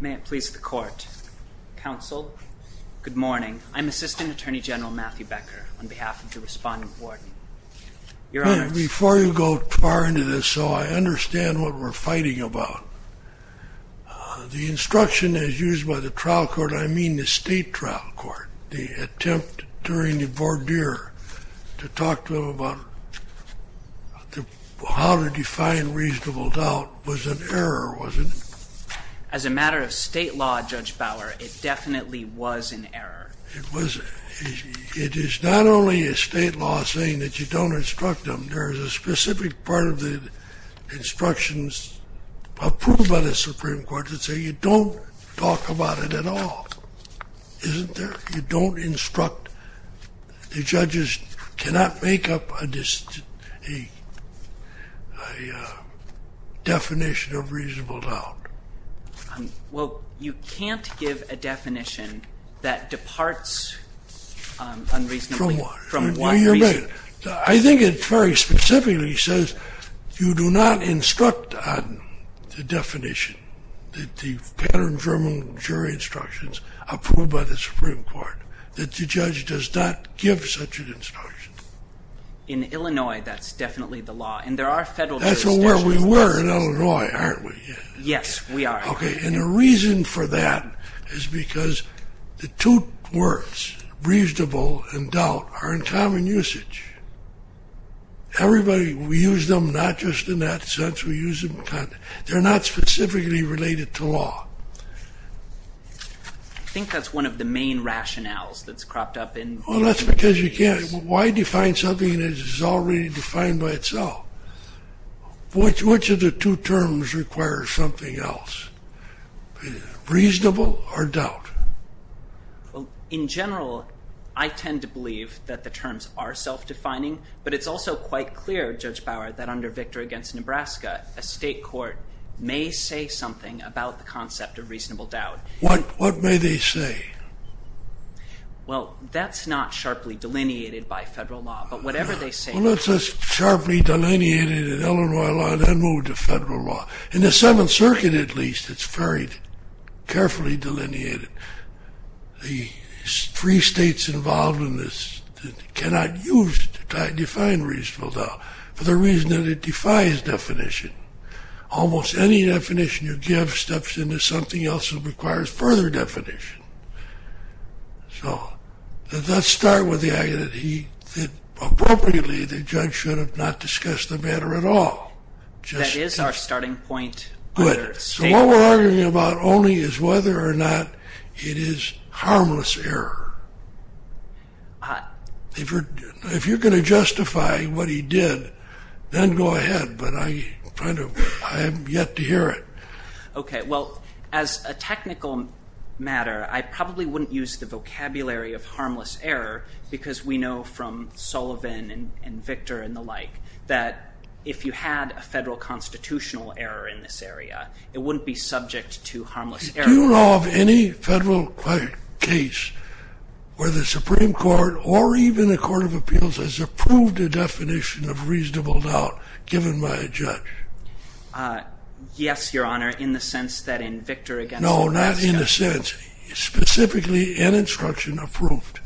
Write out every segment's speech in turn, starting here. May it please the court. Counsel, good morning. I'm Assistant Attorney General Matthew Becker, on behalf of the Respondent Board. Your Honor. Before you go far into this, so I understand what we're fighting about, the instruction as used by the trial court, I mean the state trial court, the attempt during the voir dire to talk to them about how to define reasonable doubt was an error, was it? As a matter of state law, Judge Bauer, it definitely was an error. It was. It is not only a state law saying that you don't instruct them. There is a specific part of the instructions approved by the Supreme Court that say you don't talk about it at all, isn't there? You don't instruct. The judges cannot make up a definition of reasonable doubt. Well, you can't give a definition that departs unreasonably. From what? I think it very specifically says you do not instruct on the definition. The German jury instructions approved by the Supreme Court that the judge does not give such an instruction. In Illinois, that's definitely the law. And there are federal jurisdictions. That's where we were in Illinois, aren't we? Yes, we are. Okay. And the reason for that is because the two words, reasonable and doubt, are in common usage. Everybody, we use them not just in that sense. We use them in context. They're not specifically related to law. I think that's one of the main rationales that's cropped up. Well, that's because you can't. Why define something that is already defined by itself? Which of the two terms requires something else? Reasonable or doubt? Well, in general, I tend to believe that the terms are self-defining, but it's also quite clear, Judge Bauer, that under Victor against Nebraska, a state court may say something about the concept of reasonable doubt. What may they say? Well, that's not sharply delineated by federal law, but whatever they say. Well, that's sharply delineated in Illinois law and then moved to federal law. In the Seventh Circuit, at least, it's very carefully delineated. The three states involved in this cannot use to define reasonable doubt for the reason that it defies definition. Almost any definition you give steps into something else that requires further definition. So let's start with the idea that, appropriately, the judge should have not discussed the matter at all. That is our starting point under state law. Good. So what we're arguing about only is whether or not it is harmless error. If you're going to justify what he did, then go ahead, but I haven't yet to hear it. Okay. Well, as a technical matter, I probably wouldn't use the vocabulary of harmless error because we know from Sullivan and Victor and the like that if you had a federal constitutional error in this area, it wouldn't be subject to harmless error. Do you know of any federal case where the Supreme Court or even the Court of Appeals Yes, Your Honor, in the sense that in Victor v. Wisconsin. No, not in the sense. Specifically in instruction approved.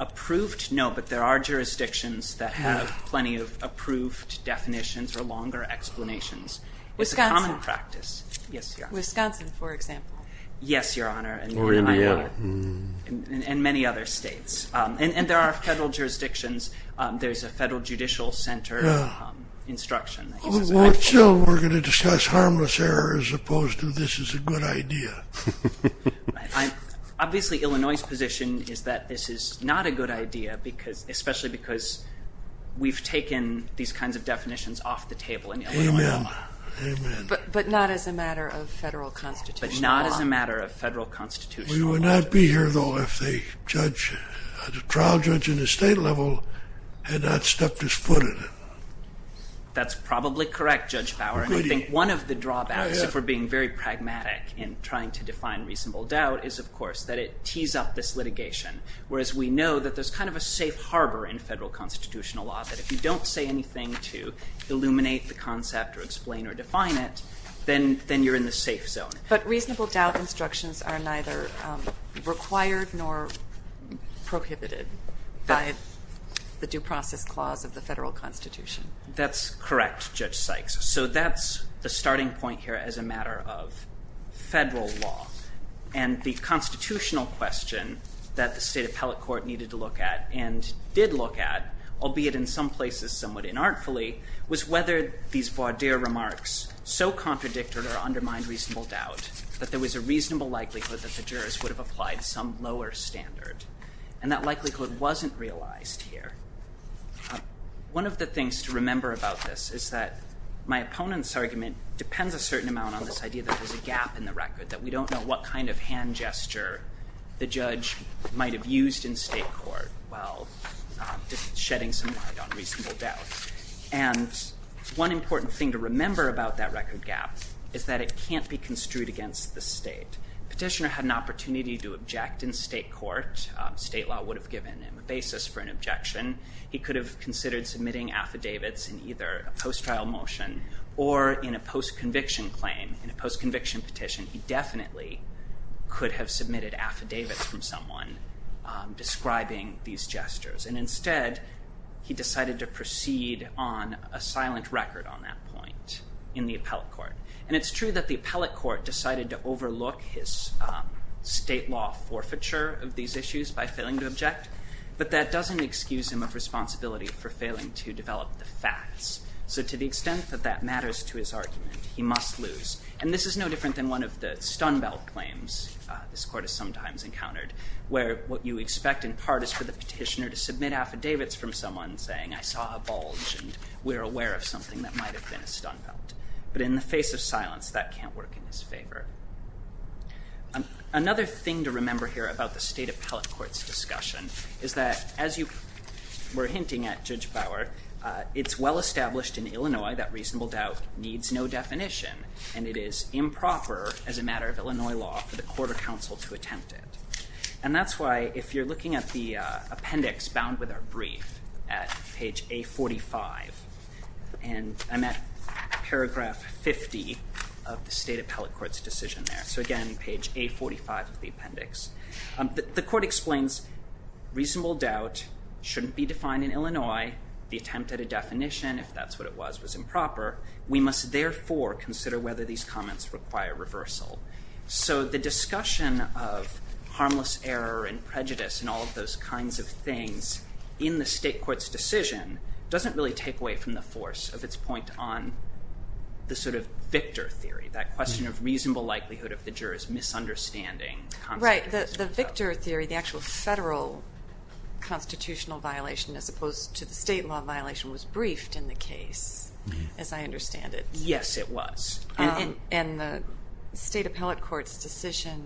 Approved? No, but there are jurisdictions that have plenty of approved definitions or longer explanations. Wisconsin. It's a common practice. Yes, Your Honor. Wisconsin, for example. Yes, Your Honor. Or Indiana. And many other states. And there are federal jurisdictions. There's a federal judicial center instruction. We're going to discuss harmless error as opposed to this is a good idea. Obviously, Illinois' position is that this is not a good idea, especially because we've taken these kinds of definitions off the table in Illinois. Amen. Amen. But not as a matter of federal constitutional law. But not as a matter of federal constitutional law. We would not be here, though, if the trial judge in the state level had not stepped his foot in it. That's probably correct, Judge Bauer. I think one of the drawbacks, if we're being very pragmatic in trying to define reasonable doubt, is, of course, that it tees up this litigation, whereas we know that there's kind of a safe harbor in federal constitutional law that if you don't say anything to illuminate the concept or explain or define it, then you're in the safe zone. But reasonable doubt instructions are neither required nor prohibited by the due process clause of the federal constitution. That's correct, Judge Sykes. So that's the starting point here as a matter of federal law. And the constitutional question that the state appellate court needed to look at and did look at, albeit in some places somewhat inartfully, was whether these voir dire remarks so contradicted or undermined reasonable doubt that there was a reasonable likelihood that the jurors would have applied some lower standard. And that likelihood wasn't realized here. One of the things to remember about this is that my opponent's argument depends a certain amount on this idea that there's a gap in the record, that we don't know what kind of hand gesture the judge might have used in state court while shedding some light on reasonable doubt. And one important thing to remember about that record gap is that it can't be construed against the state. Petitioner had an opportunity to object in state court. State law would have given him a basis for an objection. He could have considered submitting affidavits in either a post-trial motion or in a post-conviction claim. In a post-conviction petition, he definitely could have submitted affidavits from someone describing these gestures. And instead, he decided to proceed on a silent record on that point in the appellate court. And it's true that the appellate court decided to overlook his state law forfeiture of these issues by failing to object, but that doesn't excuse him of responsibility for failing to develop the facts. So to the extent that that matters to his argument, he must lose. And this is no different than one of the stun belt claims this court has sometimes encountered where what you expect in part is for the petitioner to submit affidavits from someone saying, I saw a bulge and we're aware of something that might have been a stun belt. But in the face of silence, that can't work in his favor. Another thing to remember here about the state appellate court's discussion is that as you were hinting at, Judge Bauer, it's well established in Illinois that reasonable doubt needs no definition. And it is improper as a matter of Illinois law for the court or counsel to attempt it. And that's why if you're looking at the appendix bound with our brief at page A45, and I'm at paragraph 50 of the state appellate court's decision there. So again, page A45 of the appendix. The court explains reasonable doubt shouldn't be defined in Illinois. The attempt at a definition, if that's what it was, was improper. We must therefore consider whether these comments require reversal. So the discussion of harmless error and prejudice and all of those kinds of things in the state court's decision doesn't really take away from the force of its point on the sort of victor theory, that question of reasonable likelihood of the jurors misunderstanding. Right. The victor theory, the actual federal constitutional violation as opposed to the state law violation was briefed in the case, as I understand it. Yes, it was. And the state appellate court's decision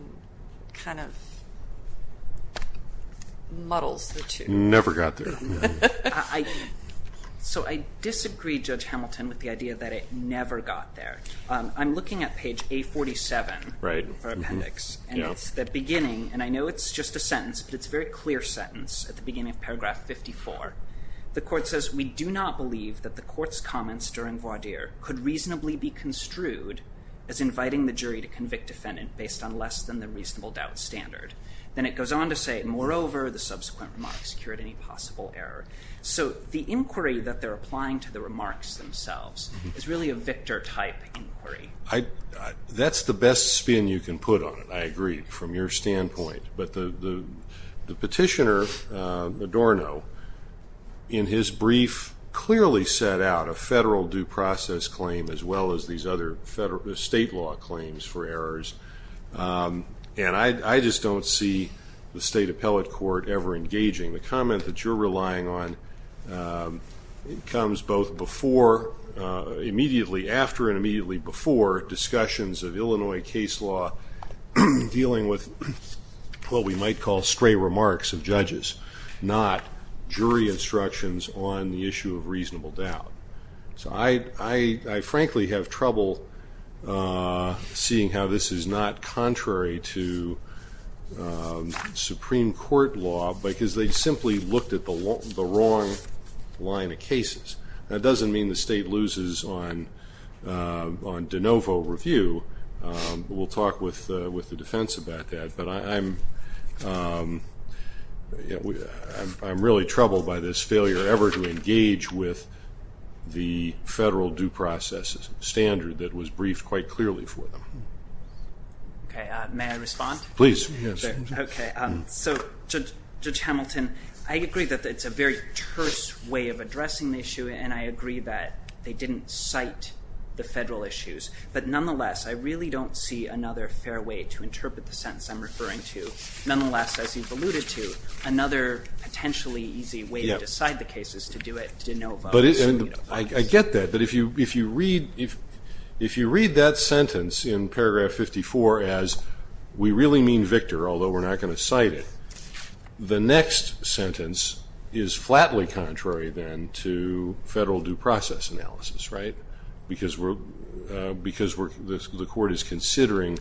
kind of muddles the two. Never got there. So I disagree, Judge Hamilton, with the idea that it never got there. I'm looking at page A47 of our appendix. And it's the beginning, and I know it's just a sentence, but it's a very clear sentence at the beginning of paragraph 54. The court says, We do not believe that the court's comments during voir dire could reasonably be construed as inviting the jury to convict defendant based on less than the reasonable doubt standard. Then it goes on to say, Moreover, the subsequent remarks cured any possible error. So the inquiry that they're applying to the remarks themselves is really a victor-type inquiry. That's the best spin you can put on it, I agree, from your standpoint. But the petitioner, Adorno, in his brief, clearly set out a federal due process claim as well as these other state law claims for errors. And I just don't see the state appellate court ever engaging. The comment that you're relying on comes both immediately after and immediately before discussions of Illinois case law dealing with what we might call stray remarks of judges, not jury instructions on the issue of reasonable doubt. So I frankly have trouble seeing how this is not contrary to Supreme Court law because they simply looked at the wrong line of cases. That doesn't mean the state loses on de novo review. We'll talk with the defense about that. But I'm really troubled by this failure ever to engage with the federal due process standard that was briefed quite clearly for them. May I respond? Please. Okay. So, Judge Hamilton, I agree that it's a very terse way of addressing the issue, and I agree that they didn't cite the federal issues. But nonetheless, I really don't see another fair way to interpret the sentence I'm referring to. Nonetheless, as you've alluded to, another potentially easy way to decide the case is to do it de novo. I get that. But if you read that sentence in paragraph 54 as, we really mean Victor, although we're not going to cite it, the next sentence is flatly contrary then to federal due process analysis, right? Because the court is considering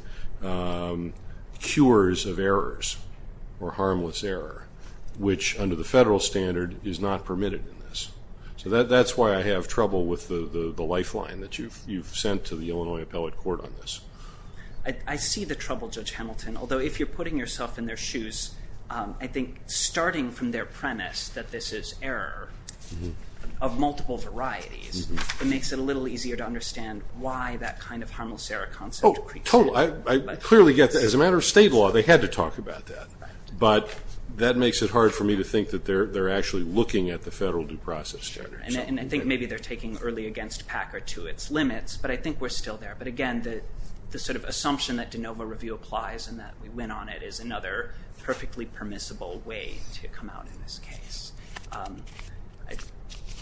cures of errors or harmless error, which under the federal standard is not permitted in this. So that's why I have trouble with the lifeline that you've sent to the Illinois Appellate Court on this. I see the trouble, Judge Hamilton, although if you're putting yourself in their shoes, I think starting from their premise that this is error of multiple varieties, it makes it a little easier to understand why that kind of harmless error concept creeps in. Oh, totally. I clearly get that. As a matter of state law, they had to talk about that. But that makes it hard for me to think that they're actually looking at the federal due process standard. And I think maybe they're taking early against PAC or to its limits, but I think we're still there. But again, the sort of assumption that de novo review applies and that we win on it is another perfectly permissible way to come out in this case. I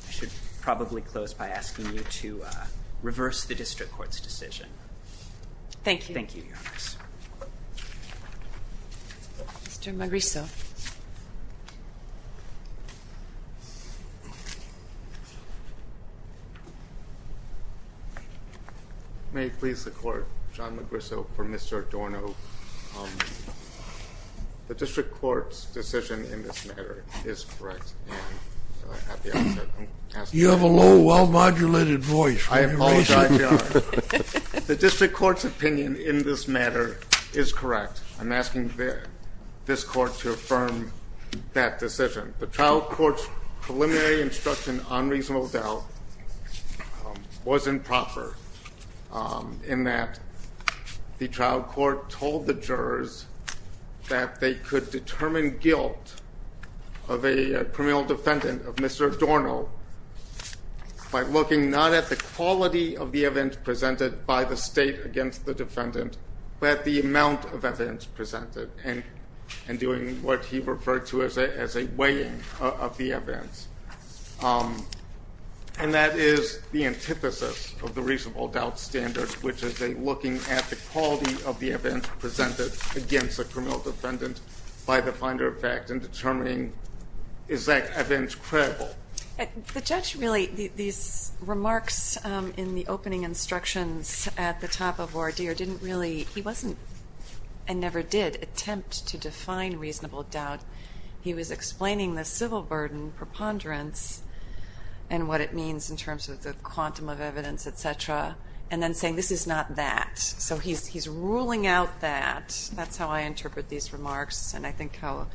should probably close by asking you to reverse the district court's decision. Thank you, Your Honor. Mr. Magrisso. May it please the Court, John Magrisso for Mr. Adorno. The district court's decision in this matter is correct. You have a low, well-modulated voice. I apologize, Your Honor. The district court's opinion in this matter is correct. I'm asking this court to affirm that decision. The trial court's preliminary instruction on reasonable doubt was improper in that the trial court told the jurors that they could determine guilt of a criminal defendant, of Mr. Adorno, by looking not at the quality of the evidence presented by the state against the defendant, but the amount of evidence presented and doing what he referred to as a weighing of the evidence. And that is the antithesis of the reasonable doubt standard, which is a looking at the quality of the evidence presented against a criminal defendant by the finder of fact and determining is that evidence credible. The judge really, these remarks in the opening instructions at the top of voir dire didn't really, he wasn't, and never did, attempt to define reasonable doubt. He was explaining the civil burden preponderance and what it means in terms of the quantum of evidence, etc. And then saying this is not that. So he's ruling out that. That's how I interpret these remarks and I think how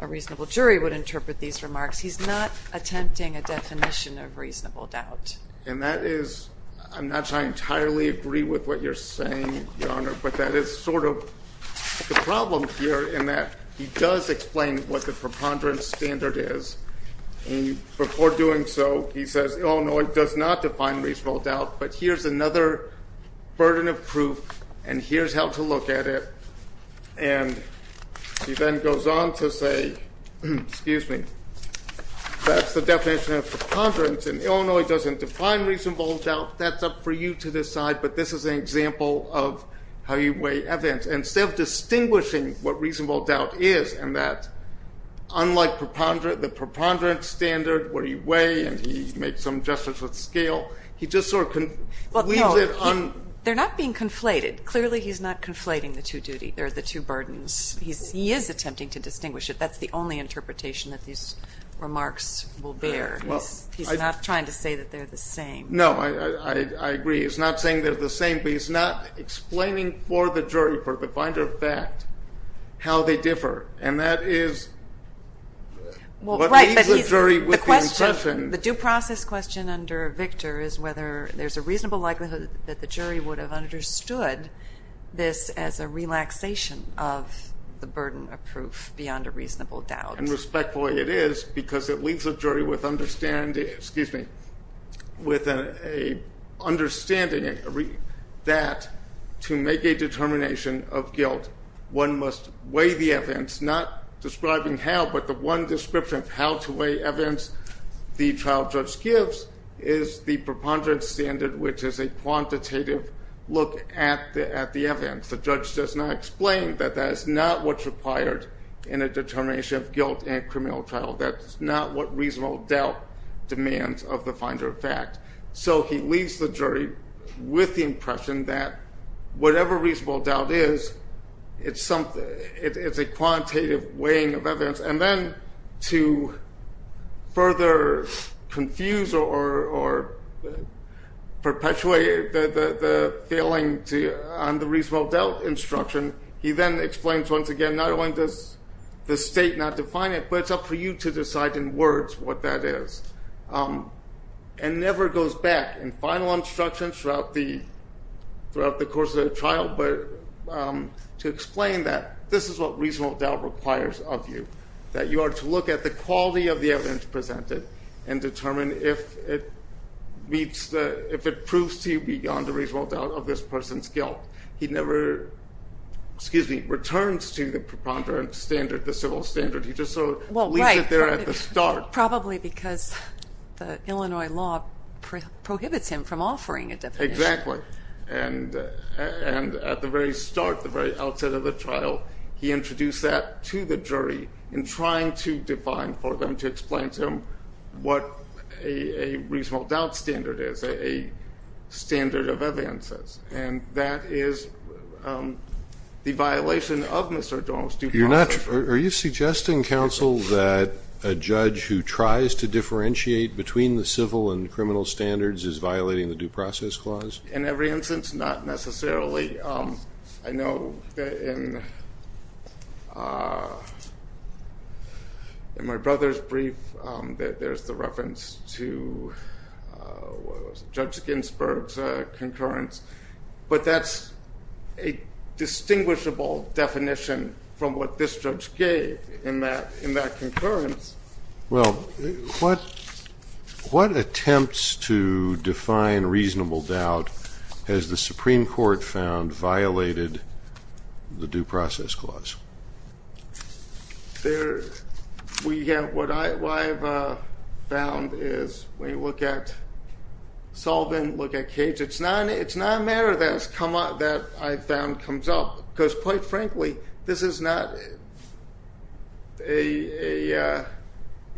a reasonable jury would interpret these remarks. He's not attempting a definition of reasonable doubt. And that is, I'm not trying to entirely agree with what you're saying, Your Honor, but that is sort of the problem here in that he does explain what the preponderance standard is and before doing so he says, Illinois does not define reasonable doubt, but here's another burden of proof and here's how to look at it. And he then goes on to say, excuse me, that's the definition of preponderance and Illinois doesn't define reasonable doubt. That's up for you to decide, but this is an example of how you weigh evidence. And instead of distinguishing what reasonable doubt is and that unlike the preponderance standard, where you weigh and he makes some gestures at scale, he just sort of leaves it on... They're not being conflated. Clearly he's not conflating the two burdens. He is attempting to distinguish it. That's the only interpretation that these remarks will bear. He's not trying to say that they're the same. No, I agree. He's not saying they're the same, but he's not explaining for the jury, for the finder of fact, how they differ. And that is what leaves the jury with the impression... The due process question under Victor is whether there's a reasonable likelihood that the jury would have understood this as a relaxation of the burden of proof beyond a reasonable doubt. And respectfully, it is, because it leaves the jury with an understanding that to make a determination of guilt, one must weigh the evidence, not describing how, but the one description of how to weigh evidence the trial judge gives is the preponderance standard, which is a quantitative look at the evidence. The judge does not explain that that is not what's required in a determination of guilt in a criminal trial. That's not what reasonable doubt demands of the finder of fact. So he leaves the jury with the impression that whatever reasonable doubt is, it's a quantitative weighing of evidence. And then to further confuse or perpetuate the failing on the reasonable doubt instruction, he then explains once again, not only does the state not define it, but it's up for you to decide in words what that is. And never goes back in final instructions throughout the course of the trial, but to explain that this is what reasonable doubt requires of you, that you are to look at the quality of the evidence presented and determine if it proves to you beyond a reasonable doubt of this person's guilt. He never returns to the preponderance standard, the civil standard. He just sort of leaves it there at the start. Well, probably because the Illinois law prohibits him from offering a definition. Exactly. And at the very start, the very outset of the trial, he introduced that to the jury in trying to define for them to explain to them what a reasonable doubt standard is, a standard of advances. And that is the violation of Mr. Dorn's due process. Are you suggesting, counsel, that a judge who tries to differentiate between the civil and criminal standards is violating the due process clause? In every instance, not necessarily. I know in my brother's brief, there's the reference to Judge Ginsburg's concurrence, but that's a distinguishable definition from what this judge gave in that concurrence. Well, what attempts to define reasonable doubt has the Supreme Court found violated the due process clause? What I have found is when you look at Sullivan, look at Cage, it's not a matter that I've found comes up, because quite frankly, this is not an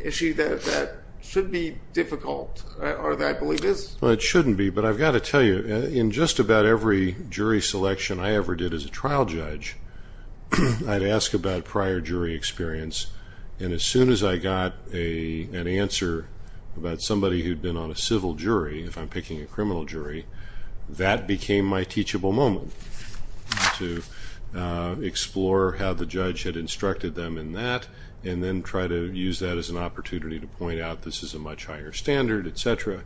issue that should be difficult or that I believe is. Well, it shouldn't be, but I've got to tell you, in just about every jury selection I ever did as a trial judge, I'd ask about prior jury experience, and as soon as I got an answer about somebody who'd been on a civil jury, if I'm picking a criminal jury, that became my teachable moment to explore how the judge had instructed them in that and then try to use that as an opportunity to point out this is a much higher standard, et cetera.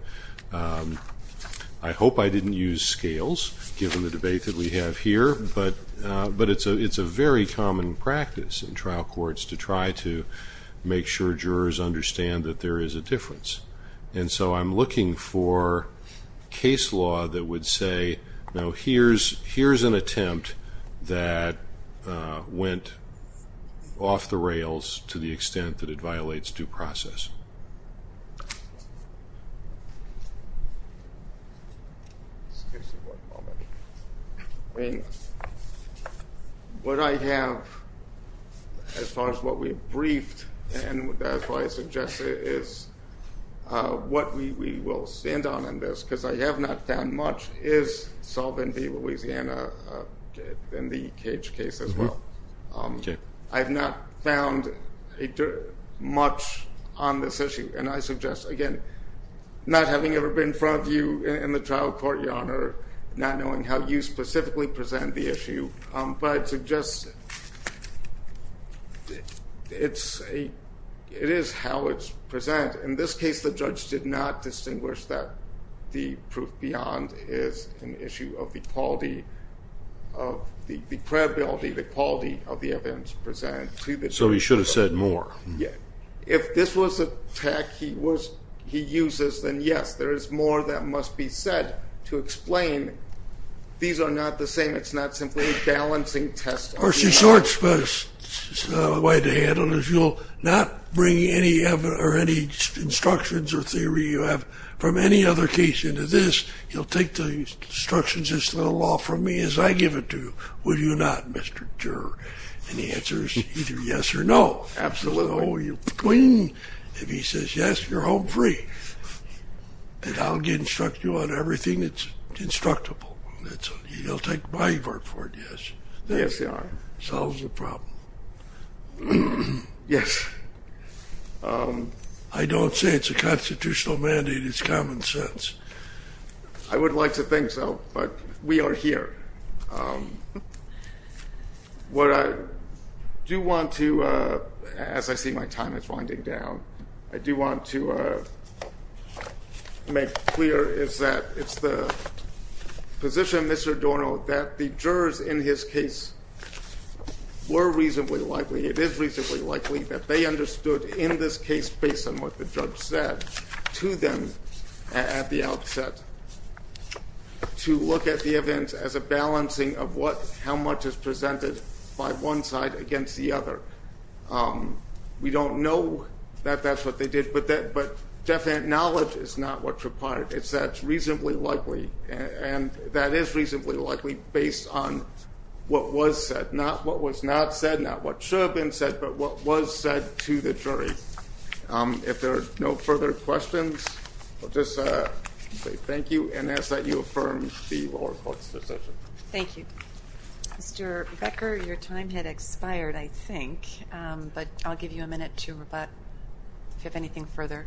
I hope I didn't use scales, given the debate that we have here, but it's a very common practice in trial courts to try to make sure jurors understand that there is a difference. And so I'm looking for case law that would say, here's an attempt that went off the rails to the extent that it violates due process. What I have, as far as what we've briefed, and that's why I suggest it, is what we will stand on in this, because I have not found much, is Solvin v. Louisiana in the Cage case as well. I have not found much on this issue, and I suggest, again, not having ever been in front of you in the trial court, Your Honor, not knowing how you specifically present the issue, but I suggest it is how it's presented. In this case, the judge did not distinguish that the proof beyond is an issue of the credibility, the quality of the evidence presented. So he should have said more. If this was a tech he uses, then yes, there is more that must be said to explain. These are not the same. It's not simply a balancing test. Of course, the short way to handle it is you'll not bring any instructions or theory you have from any other case into this. You'll take the instructions of this little law from me as I give it to you, will you not, Mr. Juror? And the answer is either yes or no. Absolutely. If he says yes, you're home free. And I'll instruct you on everything that's instructable. You'll take my word for it, yes? Yes, Your Honor. Solves the problem. Yes. I don't say it's a constitutional mandate, it's common sense. I would like to think so, but we are here. What I do want to, as I see my time is winding down, I do want to make clear is that it's the position, Mr. Dorno, that the jurors in his case were reasonably likely, it is reasonably likely, that they understood in this case based on what the judge said to them at the outset to look at the events as a balancing of how much is presented by one side against the other. We don't know that that's what they did, but definite knowledge is not what's required. It's that it's reasonably likely, and that is reasonably likely, based on what was said, not what was not said, not what should have been said, but what was said to the jury. If there are no further questions, I'll just say thank you and ask that you affirm the lower court's decision. Thank you. Mr. Becker, your time had expired, I think, but I'll give you a minute to rebut if you have anything further.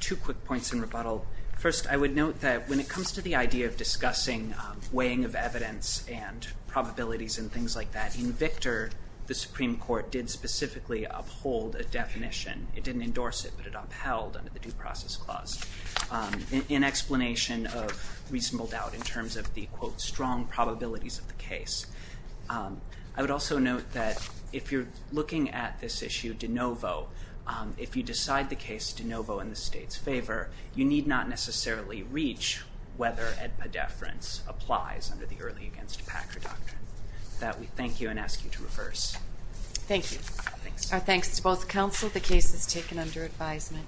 Two quick points in rebuttal. First, I would note that when it comes to the idea of discussing weighing of evidence and probabilities and things like that, in Victor, the Supreme Court did specifically uphold a definition. It didn't endorse it, but it upheld under the Due Process Clause in explanation of reasonable doubt in terms of the, quote, strong probabilities of the case. I would also note that if you're looking at this issue de novo, if you decide the case de novo in the state's favor, you need not necessarily reach whether a deference applies under the Early Against Packer Doctrine. With that, we thank you and ask you to reverse. Thank you. Our thanks to both counsel. The case is taken under advisement.